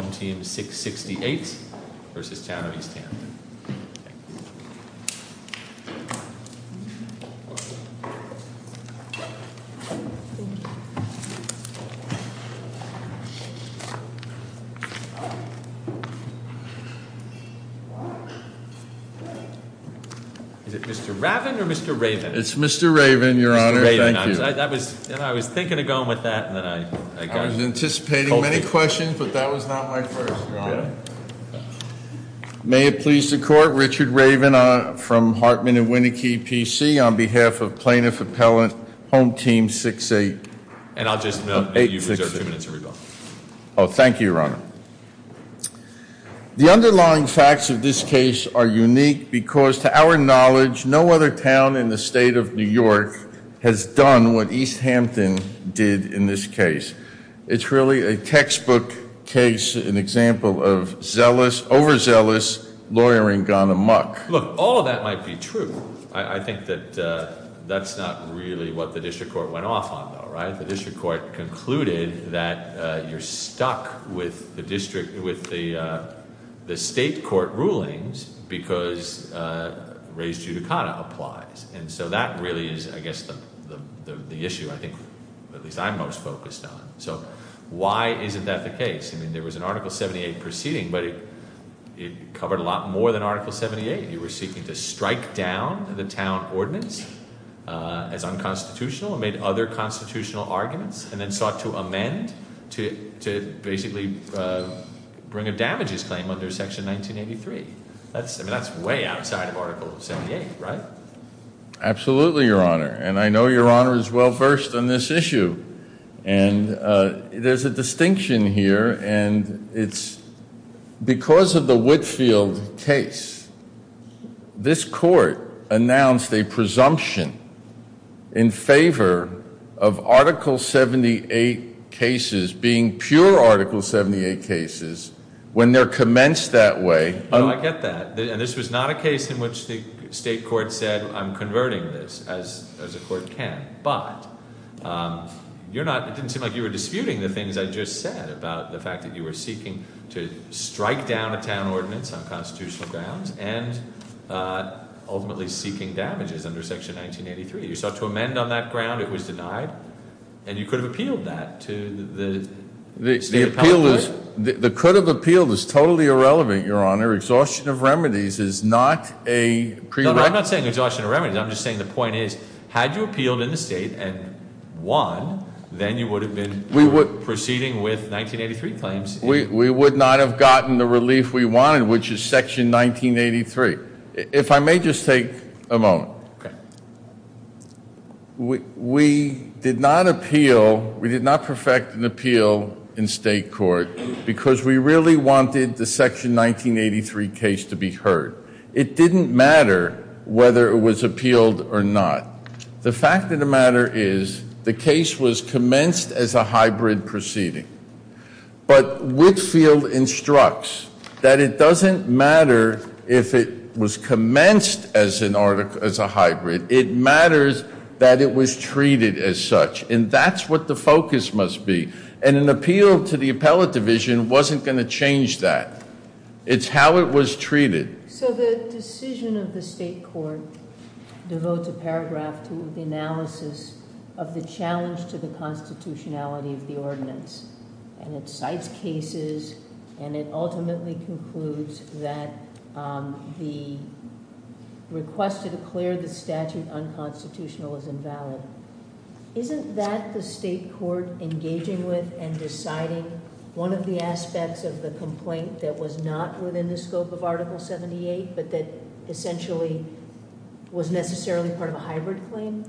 Is it Mr. Raven or Mr. Raven? It's Mr. Raven, your honor. Thank you. I was thinking of going with that and then I got it. I was anticipating many questions but that was not my first, your honor. May it please the court, Richard Raven from Hartman and Winneke, PC, on behalf of Plaintiff Appellant Home Team 688. Oh, thank you, your honor. The underlying facts of this case are unique because to our knowledge no other town in the state of New York has done what East Hampton did in this case. It's really a textbook case, an example of zealous, overzealous lawyering gone amuck. Look, all of that might be true. I think that that's not really what the district court went off on though, right? The district court concluded that you're stuck with the state court rulings because res judicata applies. And so that really is, I guess, the issue I think, at least I'm most focused on. So why isn't that the case? I mean, there was an Article 78 proceeding but it covered a lot more than Article 78. You were seeking to strike down the town ordinance as unconstitutional and made other constitutional arguments and then sought to amend to basically bring a damages claim under Section 1983. That's way outside of Article 78, right? Absolutely, your honor. And I know your honor is well versed on this issue. And there's a distinction here and it's because of the Whitfield case, this court announced a presumption in favor of Article 78 cases being pure Article 78 cases when they're commenced that way. No, I get that. And this was not a case in which the state court said, I'm converting this as a court can. But it didn't seem like you were disputing the things I just said about the fact that you were seeking to strike down a town ordinance on constitutional grounds and ultimately seeking damages under Section 1983. You sought to amend on that ground. It was denied. And you could have appealed that to the state appellate court. The could have appealed is totally irrelevant, your honor. Exhaustion of remedies is not a prerequisite. No, I'm not saying exhaustion of remedies. I'm just saying the point is, had you appealed in the state and won, then you would have been proceeding with 1983 claims. We would not have gotten the relief we wanted, which is Section 1983. If I may just take a moment. We did not appeal. We did not perfect an appeal in state court because we really wanted the Section 1983 case to be heard. It didn't matter whether it was appealed or not. The fact of the matter is the case was commenced as a hybrid proceeding. But Whitfield instructs that it doesn't matter if it was commenced as a hybrid. It matters that it was treated as such. And that's what the focus must be. And an appeal to the appellate division wasn't going to change that. It's how it was treated. So the decision of the state court devotes a paragraph to the analysis of the challenge to the constitutionality of the ordinance. And it cites cases and it ultimately concludes that the request to declare the statute unconstitutional is invalid. Isn't that the state court engaging with and deciding one of the aspects of the complaint that was not within the scope of Article 78, but that essentially was necessarily part of a hybrid claim?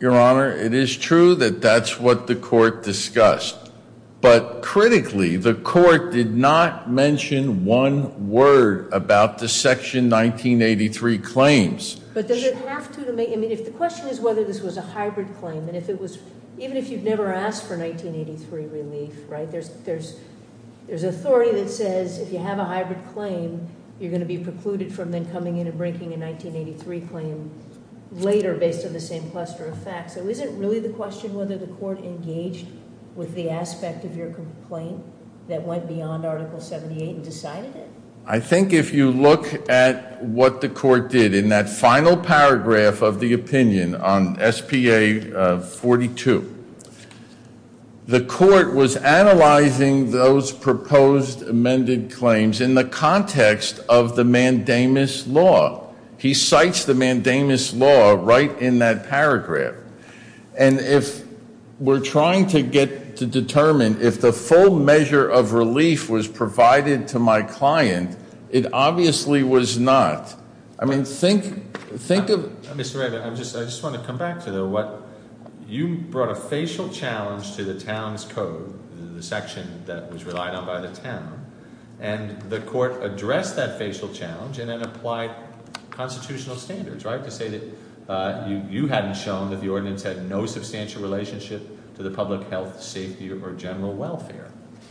Your Honor, it is true that that's what the court discussed. But critically, the court did not mention one word about the Section 1983 claims. But does it have to? I mean, if the question is whether this was a hybrid claim, and if it was, even if you've never asked for 1983 relief, right? There's authority that says if you have a hybrid claim, you're going to be precluded from then coming in and breaking a 1983 claim later based on the same cluster of facts. So is it really the question whether the court engaged with the aspect of your complaint that went beyond Article 78 and decided it? I think if you look at what the court did in that final paragraph of the opinion on SPA 42, the court was analyzing those proposed amended claims in the context of the mandamus law. He cites the mandamus law right in that paragraph. And if we're trying to get to determine if the full measure of relief was provided to my client, it obviously was not. I mean, think of- Mr. Ray, I just want to come back to what you brought a facial challenge to the town's code, the section that was relied on by the town. And the court addressed that facial challenge and then applied constitutional standards, right? To say that you hadn't shown that the ordinance had no substantial relationship to the public health, safety, or general welfare.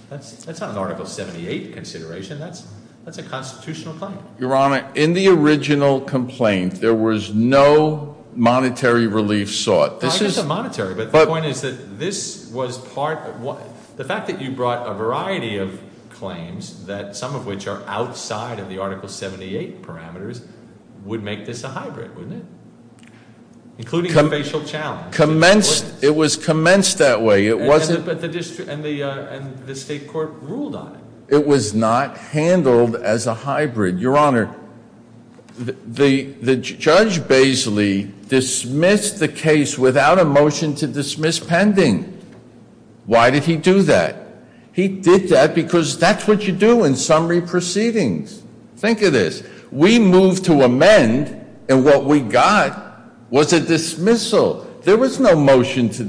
That's not an Article 78 consideration. That's a constitutional claim. Your Honor, in the original complaint, there was no monetary relief sought. I get the monetary, but the point is that this was part- The fact that you brought a variety of claims, some of which are outside of the Article 78 parameters, would make this a hybrid, wouldn't it? Including the facial challenge. It was commenced that way. And the state court ruled on it. It was not handled as a hybrid. Your Honor, Judge Baisley dismissed the case without a motion to dismiss pending. Why did he do that? He did that because that's what you do in summary proceedings. Think of this. We moved to amend, and what we got was a dismissal. There was no motion to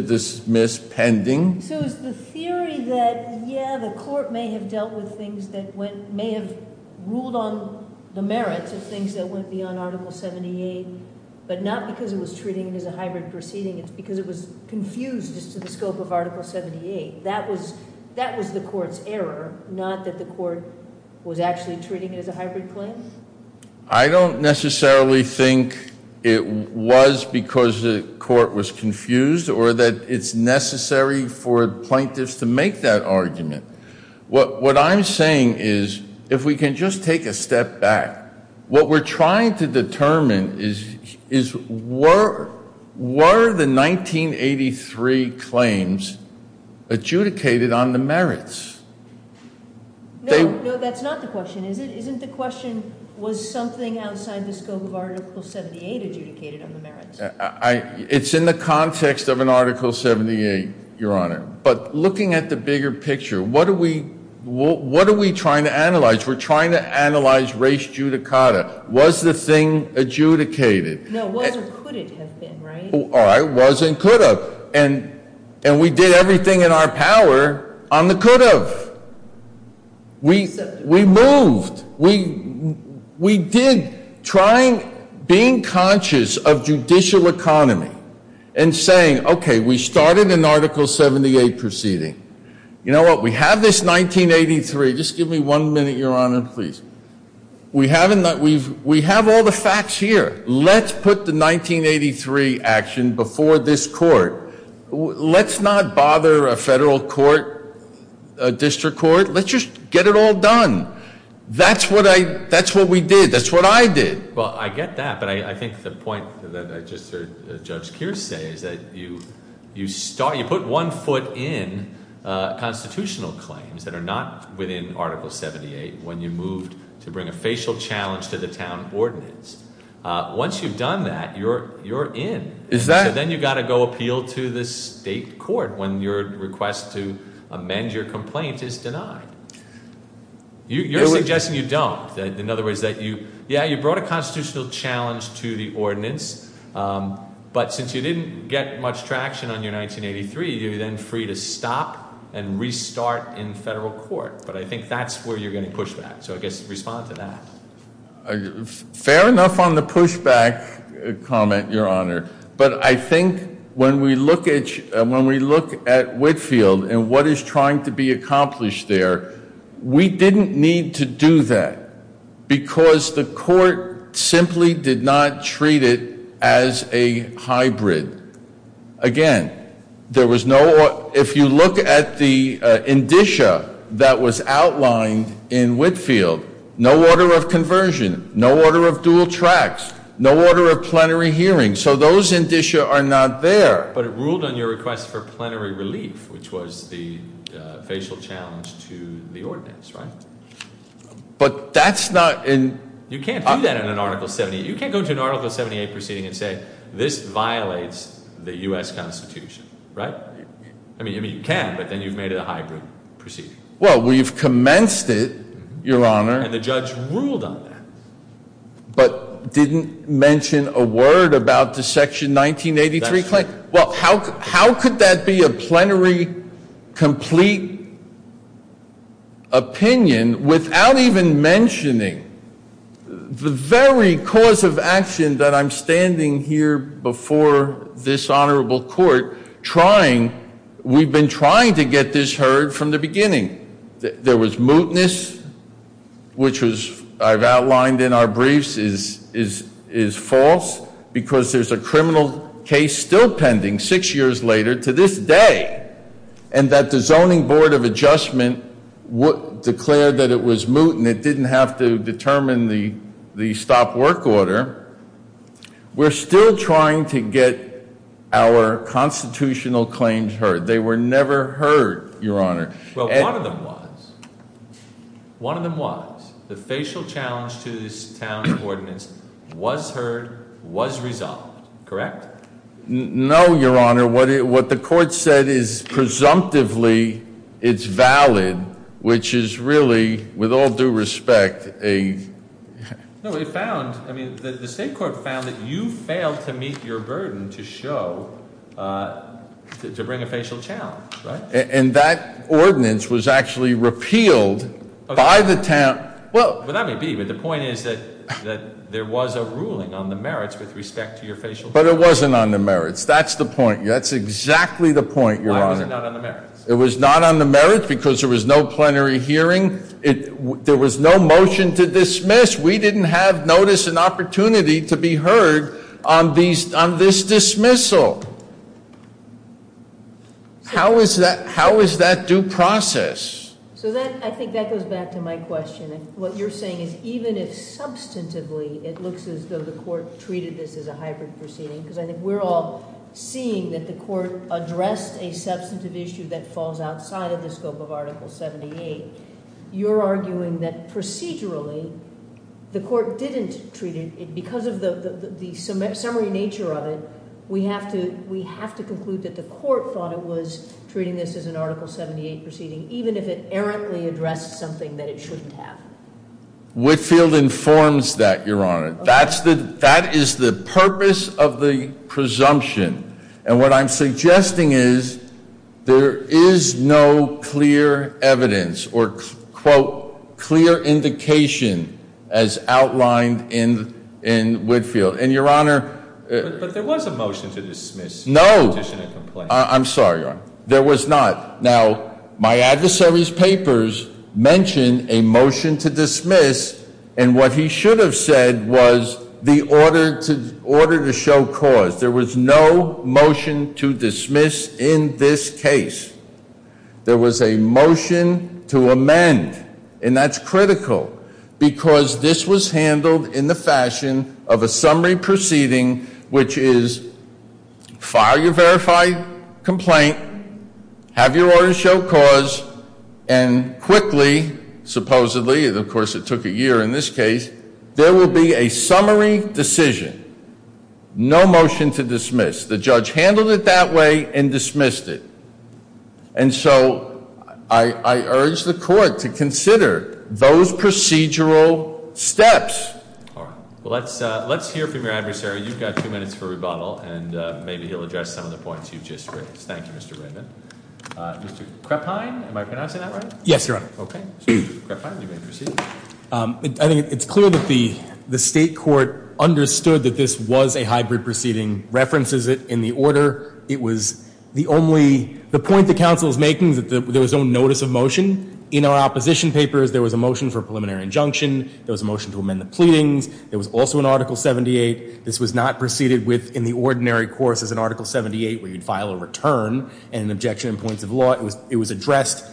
dismiss pending. So is the theory that, yeah, the court may have dealt with things that may have ruled on the merits of things that went beyond Article 78, but not because it was treating it as a hybrid proceeding. It's because it was confused as to the scope of Article 78. That was the court's error, not that the court was actually treating it as a hybrid claim? I don't necessarily think it was because the court was confused or that it's necessary for plaintiffs to make that argument. What I'm saying is, if we can just take a step back, what we're trying to determine is, were the 1983 claims adjudicated on the merits? No, that's not the question. Isn't the question, was something outside the scope of Article 78 adjudicated on the merits? It's in the context of an Article 78, Your Honor. But looking at the bigger picture, what are we trying to analyze? We're trying to analyze res judicata. Was the thing adjudicated? No, was or could it have been, right? All right, was and could have. And we did everything in our power on the could have. We moved. We did trying, being conscious of judicial economy and saying, okay, we started an Article 78 proceeding. You know what? We have this 1983. Just give me one minute, Your Honor, please. We have all the facts here. Let's put the 1983 action before this court. Let's not bother a federal court, a district court. Let's just get it all done. That's what we did. That's what I did. Well, I get that. But I think the point that I just heard Judge Keir say is that you start, you put one foot in constitutional claims that are not within Article 78 when you moved to bring a facial challenge to the town ordinance. Once you've done that, you're in. So then you've got to go appeal to the state court when your request to amend your complaint is denied. You're suggesting you don't. In other words, that you, yeah, you brought a constitutional challenge to the ordinance. But since you didn't get much traction on your 1983, you're then free to stop and restart in federal court. But I think that's where you're going to push back. So I guess respond to that. Fair enough on the pushback comment, Your Honor. But I think when we look at Whitefield and what is trying to be accomplished there, we didn't need to do that because the court simply did not treat it as a hybrid. Again, there was no, if you look at the indicia that was outlined in Whitefield, no order of conversion, no order of dual tracks, no order of plenary hearing. So those indicia are not there. But it ruled on your request for plenary relief, which was the facial challenge to the ordinance, right? But that's not in- You can't do that in an Article 78. You can't go to an Article 78 proceeding and say this violates the U.S. Constitution, right? I mean, you can, but then you've made it a hybrid proceeding. Well, we've commenced it, Your Honor. And the judge ruled on that. But didn't mention a word about the Section 1983 claim. Well, how could that be a plenary complete opinion without even mentioning the very cause of action that I'm standing here before this honorable court trying, we've been trying to get this heard from the beginning. There was mootness, which I've outlined in our briefs is false because there's a criminal case still pending six years later to this day and that the Zoning Board of Adjustment declared that it was moot and it didn't have to determine the stop work order. We're still trying to get our constitutional claims heard. They were never heard, Your Honor. Well, one of them was. One of them was. The facial challenge to this town's ordinance was heard, was resolved. Correct? No, Your Honor. What the court said is presumptively it's valid, which is really, with all due respect, a- No, it found, I mean, the state court found that you failed to meet your burden to show, to bring a facial challenge, right? And that ordinance was actually repealed by the town. Well, that may be, but the point is that there was a ruling on the merits with respect to your facial challenge. But it wasn't on the merits. That's the point. That's exactly the point, Your Honor. Why was it not on the merits? It was not on the merits because there was no plenary hearing. There was no motion to dismiss. We didn't have notice and opportunity to be heard on this dismissal. How is that due process? So that, I think that goes back to my question. What you're saying is even if substantively it looks as though the court treated this as a hybrid proceeding, because I think we're all seeing that the court addressed a substantive issue that falls outside of the scope of Article 78, you're arguing that procedurally the court didn't treat it because of the summary nature of it. We have to conclude that the court thought it was treating this as an Article 78 proceeding, even if it errantly addressed something that it shouldn't have. Whitefield informs that, Your Honor. That is the purpose of the presumption. And what I'm suggesting is there is no clear evidence or, quote, clear indication as outlined in Whitefield. And, Your Honor. But there was a motion to dismiss. No. I'm sorry, Your Honor. There was not. Now, my adversary's papers mention a motion to dismiss, and what he should have said was the order to show cause. There was no motion to dismiss in this case. There was a motion to amend, and that's critical, because this was handled in the fashion of a summary proceeding, which is file your verified complaint, have your order show cause, and quickly, supposedly, and of course it took a year in this case, there will be a summary decision. No motion to dismiss. The judge handled it that way and dismissed it. And so I urge the court to consider those procedural steps. All right. Well, let's hear from your adversary. You've got two minutes for rebuttal, and maybe he'll address some of the points you've just raised. Thank you, Mr. Raymond. Mr. Krephein, am I pronouncing that right? Yes, Your Honor. Okay. Mr. Krephein, you may proceed. I think it's clear that the state court understood that this was a hybrid proceeding, references it in the order. It was the only point the counsel is making that there was no notice of motion. In our opposition papers, there was a motion for a preliminary injunction. There was a motion to amend the pleadings. There was also an Article 78. This was not proceeded within the ordinary course as an Article 78 where you'd file a return and an objection in points of law. It was addressed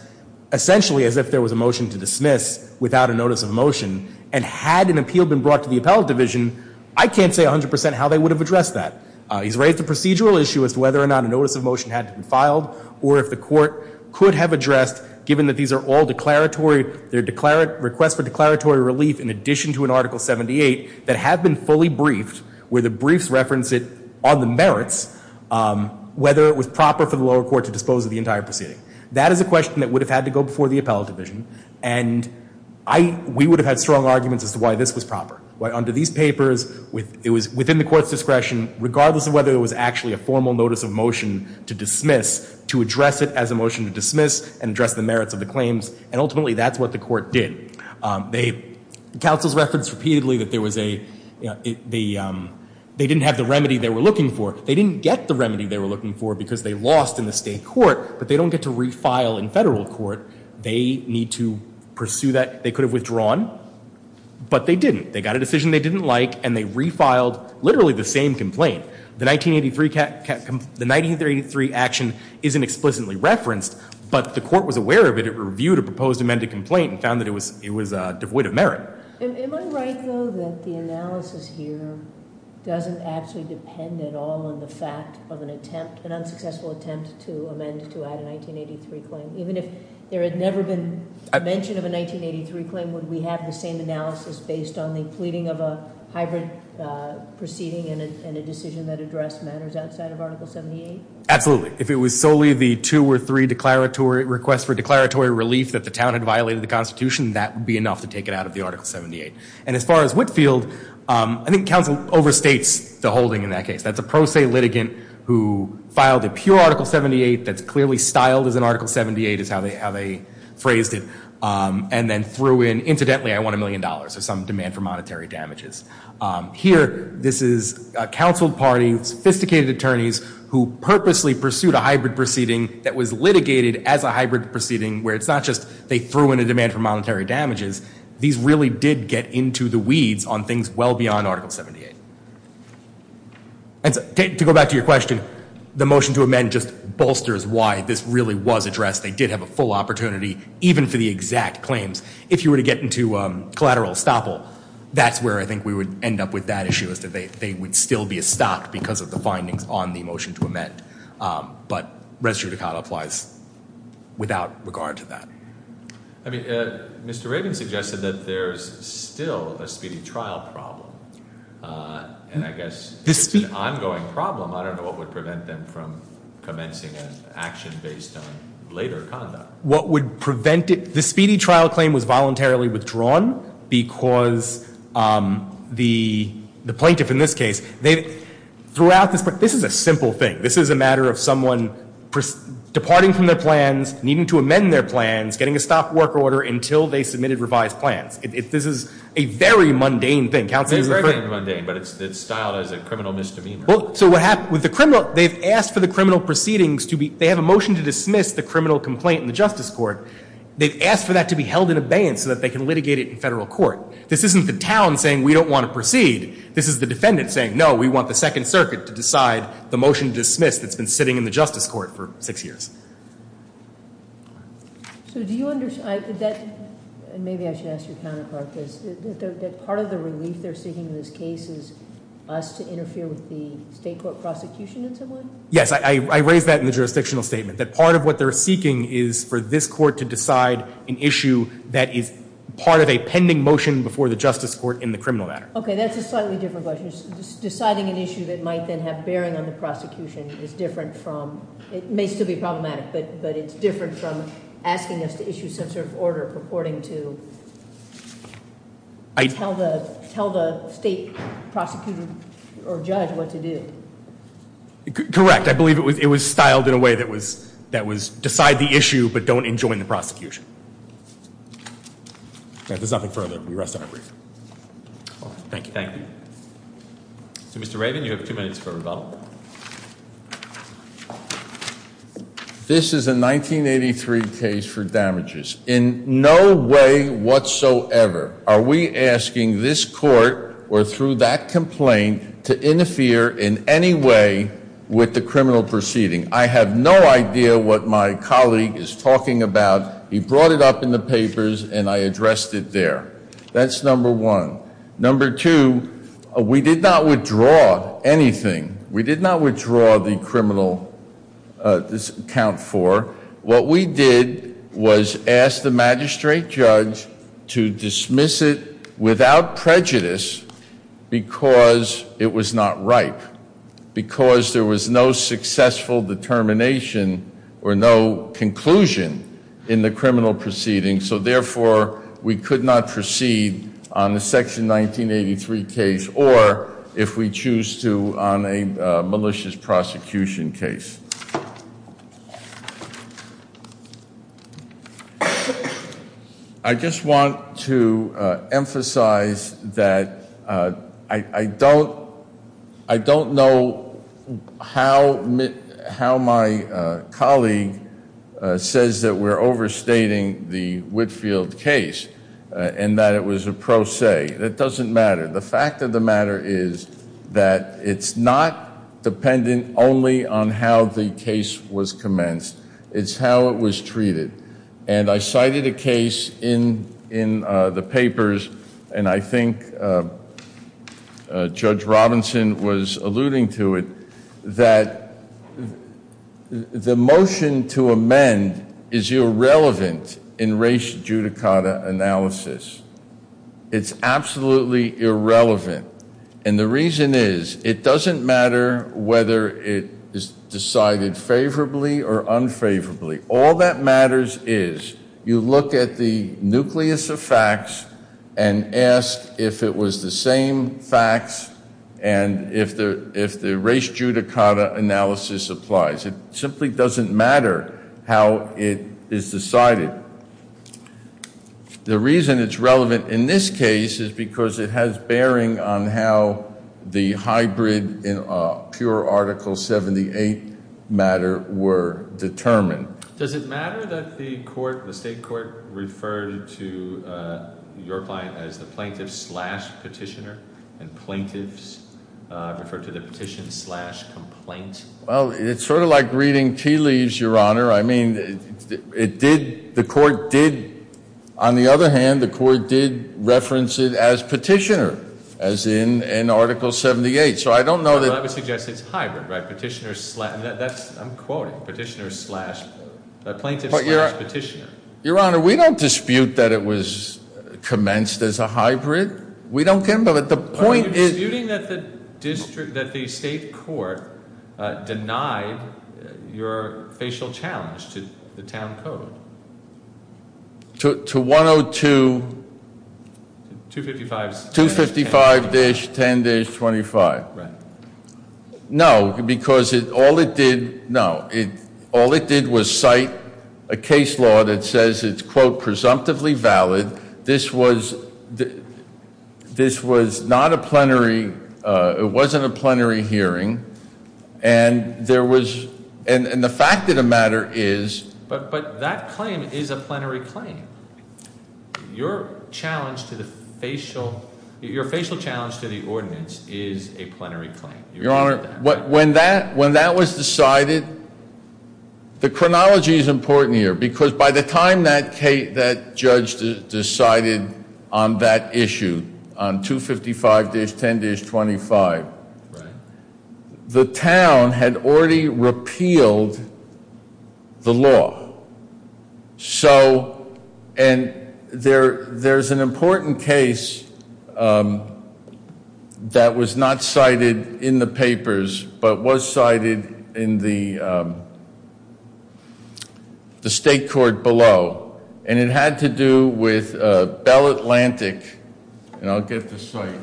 essentially as if there was a motion to dismiss without a notice of motion. And had an appeal been brought to the appellate division, I can't say 100% how they would have addressed that. He's raised a procedural issue as to whether or not a notice of motion had to be filed or if the court could have addressed, given that these are all declaratory, they're requests for declaratory relief in addition to an Article 78, that have been fully briefed where the briefs reference it on the merits, whether it was proper for the lower court to dispose of the entire proceeding. That is a question that would have had to go before the appellate division. And we would have had strong arguments as to why this was proper. Under these papers, it was within the court's discretion, regardless of whether it was actually a formal notice of motion to dismiss, to address it as a motion to dismiss and address the merits of the claims. And ultimately, that's what the court did. The counsel's reference repeatedly that there was a, you know, they didn't have the remedy they were looking for. They didn't get the remedy they were looking for because they lost in the state court, but they don't get to refile in federal court. They need to pursue that. They could have withdrawn, but they didn't. They got a decision they didn't like, and they refiled literally the same complaint. The 1983 action isn't explicitly referenced, but the court was aware of it. It reviewed a proposed amended complaint and found that it was devoid of merit. Am I right, though, that the analysis here doesn't actually depend at all on the fact of an attempt, an unsuccessful attempt to amend to add a 1983 claim? Even if there had never been mention of a 1983 claim, would we have the same analysis based on the pleading of a hybrid proceeding and a decision that addressed matters outside of Article 78? Absolutely. If it was solely the two or three requests for declaratory relief that the town had violated the Constitution, that would be enough to take it out of the Article 78. And as far as Whitfield, I think counsel overstates the holding in that case. That's a pro se litigant who filed a pure Article 78 that's clearly styled as an Article 78, is how they phrased it, and then threw in, incidentally, I want a million dollars or some demand for monetary damages. Here, this is a counsel party, sophisticated attorneys, who purposely pursued a hybrid proceeding that was litigated as a hybrid proceeding, where it's not just they threw in a demand for monetary damages. These really did get into the weeds on things well beyond Article 78. To go back to your question, the motion to amend just bolsters why this really was addressed. They did have a full opportunity, even for the exact claims. If you were to get into collateral estoppel, that's where I think we would end up with that issue, is that they would still be estopped because of the findings on the motion to amend. But res judicata applies without regard to that. I mean, Mr. Rabin suggested that there's still a speedy trial problem, and I guess it's an ongoing problem. I don't know what would prevent them from commencing an action based on later conduct. What would prevent it? The speedy trial claim was voluntarily withdrawn because the plaintiff, in this case, this is a simple thing. This is a matter of someone departing from their plans, needing to amend their plans, getting a stop work order until they submitted revised plans. This is a very mundane thing. It's very mundane, but it's styled as a criminal misdemeanor. So what happened with the criminal, they've asked for the criminal proceedings to be, they have a motion to dismiss the criminal complaint in the Justice Court. They've asked for that to be held in abeyance so that they can litigate it in federal court. This isn't the town saying we don't want to proceed. This is the defendant saying, no, we want the Second Circuit to decide the motion to dismiss that's been sitting in the Justice Court for six years. So do you understand, and maybe I should ask your counterpart this, that part of the relief they're seeking in this case is us to interfere with the state court prosecution in some way? Yes, I raised that in the jurisdictional statement, that part of what they're seeking is for this court to decide an issue that is part of a pending motion before the Justice Court in the criminal matter. Okay, that's a slightly different question. Deciding an issue that might then have bearing on the prosecution is different from, it may still be problematic, but it's different from asking us to issue some sort of order purporting to tell the state prosecutor or judge what to do. Correct. I believe it was styled in a way that was decide the issue but don't enjoin the prosecution. There's nothing further. We rest our brief. Thank you. Thank you. Mr. Raven, you have two minutes for rebuttal. This is a 1983 case for damages. In no way whatsoever are we asking this court or through that complaint to interfere in any way with the criminal proceeding. I have no idea what my colleague is talking about. He brought it up in the papers and I addressed it there. That's number one. Number two, we did not withdraw anything. We did not withdraw the criminal account for. What we did was ask the magistrate judge to dismiss it without prejudice because it was not ripe, because there was no successful determination or no conclusion in the criminal proceeding. So, therefore, we could not proceed on the section 1983 case or if we choose to on a malicious prosecution case. I just want to emphasize that I don't know how my colleague says that we're overstating the Whitfield case and that it was a pro se. It doesn't matter. The fact of the matter is that it's not dependent only on how the case was commenced. It's how it was treated. And I cited a case in the papers, and I think Judge Robinson was alluding to it, that the motion to amend is irrelevant in race judicata analysis. It's absolutely irrelevant. And the reason is it doesn't matter whether it is decided favorably or unfavorably. All that matters is you look at the nucleus of facts and ask if it was the same facts and if the race judicata analysis applies. It simply doesn't matter how it is decided. The reason it's relevant in this case is because it has bearing on how the hybrid and pure Article 78 matter were determined. Does it matter that the court, the state court, referred to your client as the plaintiff slash petitioner and plaintiffs referred to the petition slash complaint? Well, it's sort of like reading tea leaves, Your Honor. I mean, it did, the court did, on the other hand, the court did reference it as petitioner, as in Article 78. So I don't know that- Well, I would suggest it's hybrid, right? Petitioner slash, I'm quoting, petitioner slash, plaintiff slash petitioner. Your Honor, we don't dispute that it was commenced as a hybrid. We don't get, but the point is- Your facial challenge to the town code. To 102- 255- 255-10-25. No, because all it did, no, all it did was cite a case law that says it's, quote, presumptively valid. This was not a plenary, it wasn't a plenary hearing, and there was, and the fact of the matter is- But that claim is a plenary claim. Your challenge to the facial, your facial challenge to the ordinance is a plenary claim. Your Honor, when that was decided, the chronology is important here, because by the time that judge decided on that issue, on 255-10-25, the town had already repealed the law. So, and there's an important case that was not cited in the papers, but was cited in the state court below, and it had to do with Bell Atlantic, and I'll get the site.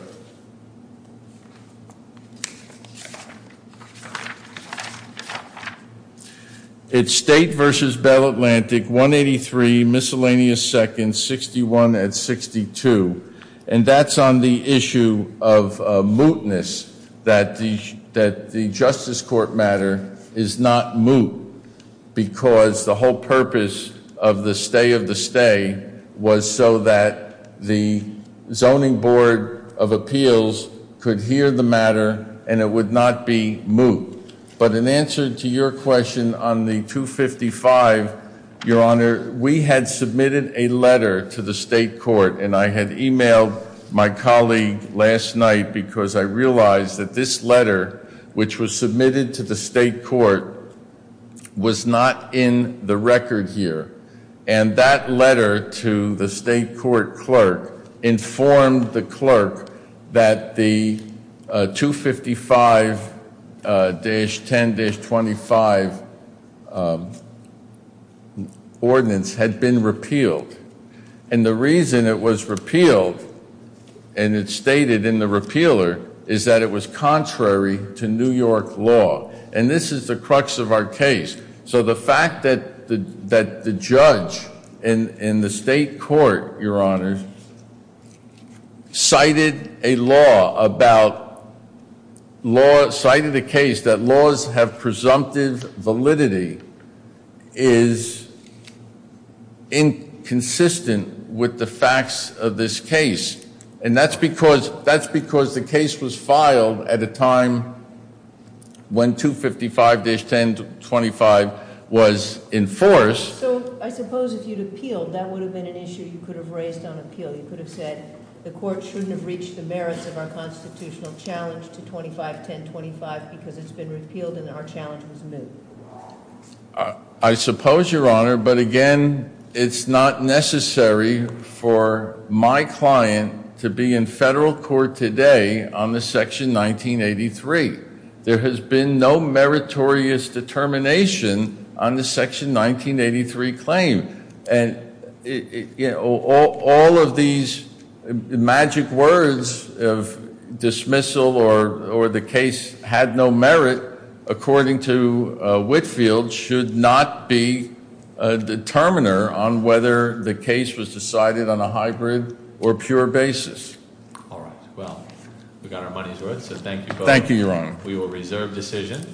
It's state versus Bell Atlantic, 183, miscellaneous seconds, 61 and 62, and that's on the issue of mootness, that the justice court matter is not moot, because the whole purpose of the stay of the stay was so that the zoning board of appeals could hear the matter and it would not be moot. But in answer to your question on the 255, Your Honor, we had submitted a letter to the state court, and I had emailed my colleague last night because I realized that this letter, which was submitted to the state court, was not in the record here. And that letter to the state court clerk informed the clerk that the 255-10-25 ordinance had been repealed. And the reason it was repealed, and it's stated in the repealer, is that it was contrary to New York law. And this is the crux of our case. So the fact that the judge in the state court, Your Honor, cited a case that laws have presumptive validity is inconsistent with the facts of this case. And that's because the case was filed at a time when 255-10-25 was in force. So I suppose if you'd appealed, that would have been an issue you could have raised on appeal. You could have said the court shouldn't have reached the merits of our constitutional challenge to 25-10-25 because it's been repealed and our challenge was moot. I suppose, Your Honor, but again, it's not necessary for my client to be in federal court today on the Section 1983. There has been no meritorious determination on the Section 1983 claim. And all of these magic words of dismissal or the case had no merit, according to Whitfield, should not be a determiner on whether the case was decided on a hybrid or pure basis. All right, well, we got our money's worth, so thank you both. Thank you, Your Honor. We will reserve decision.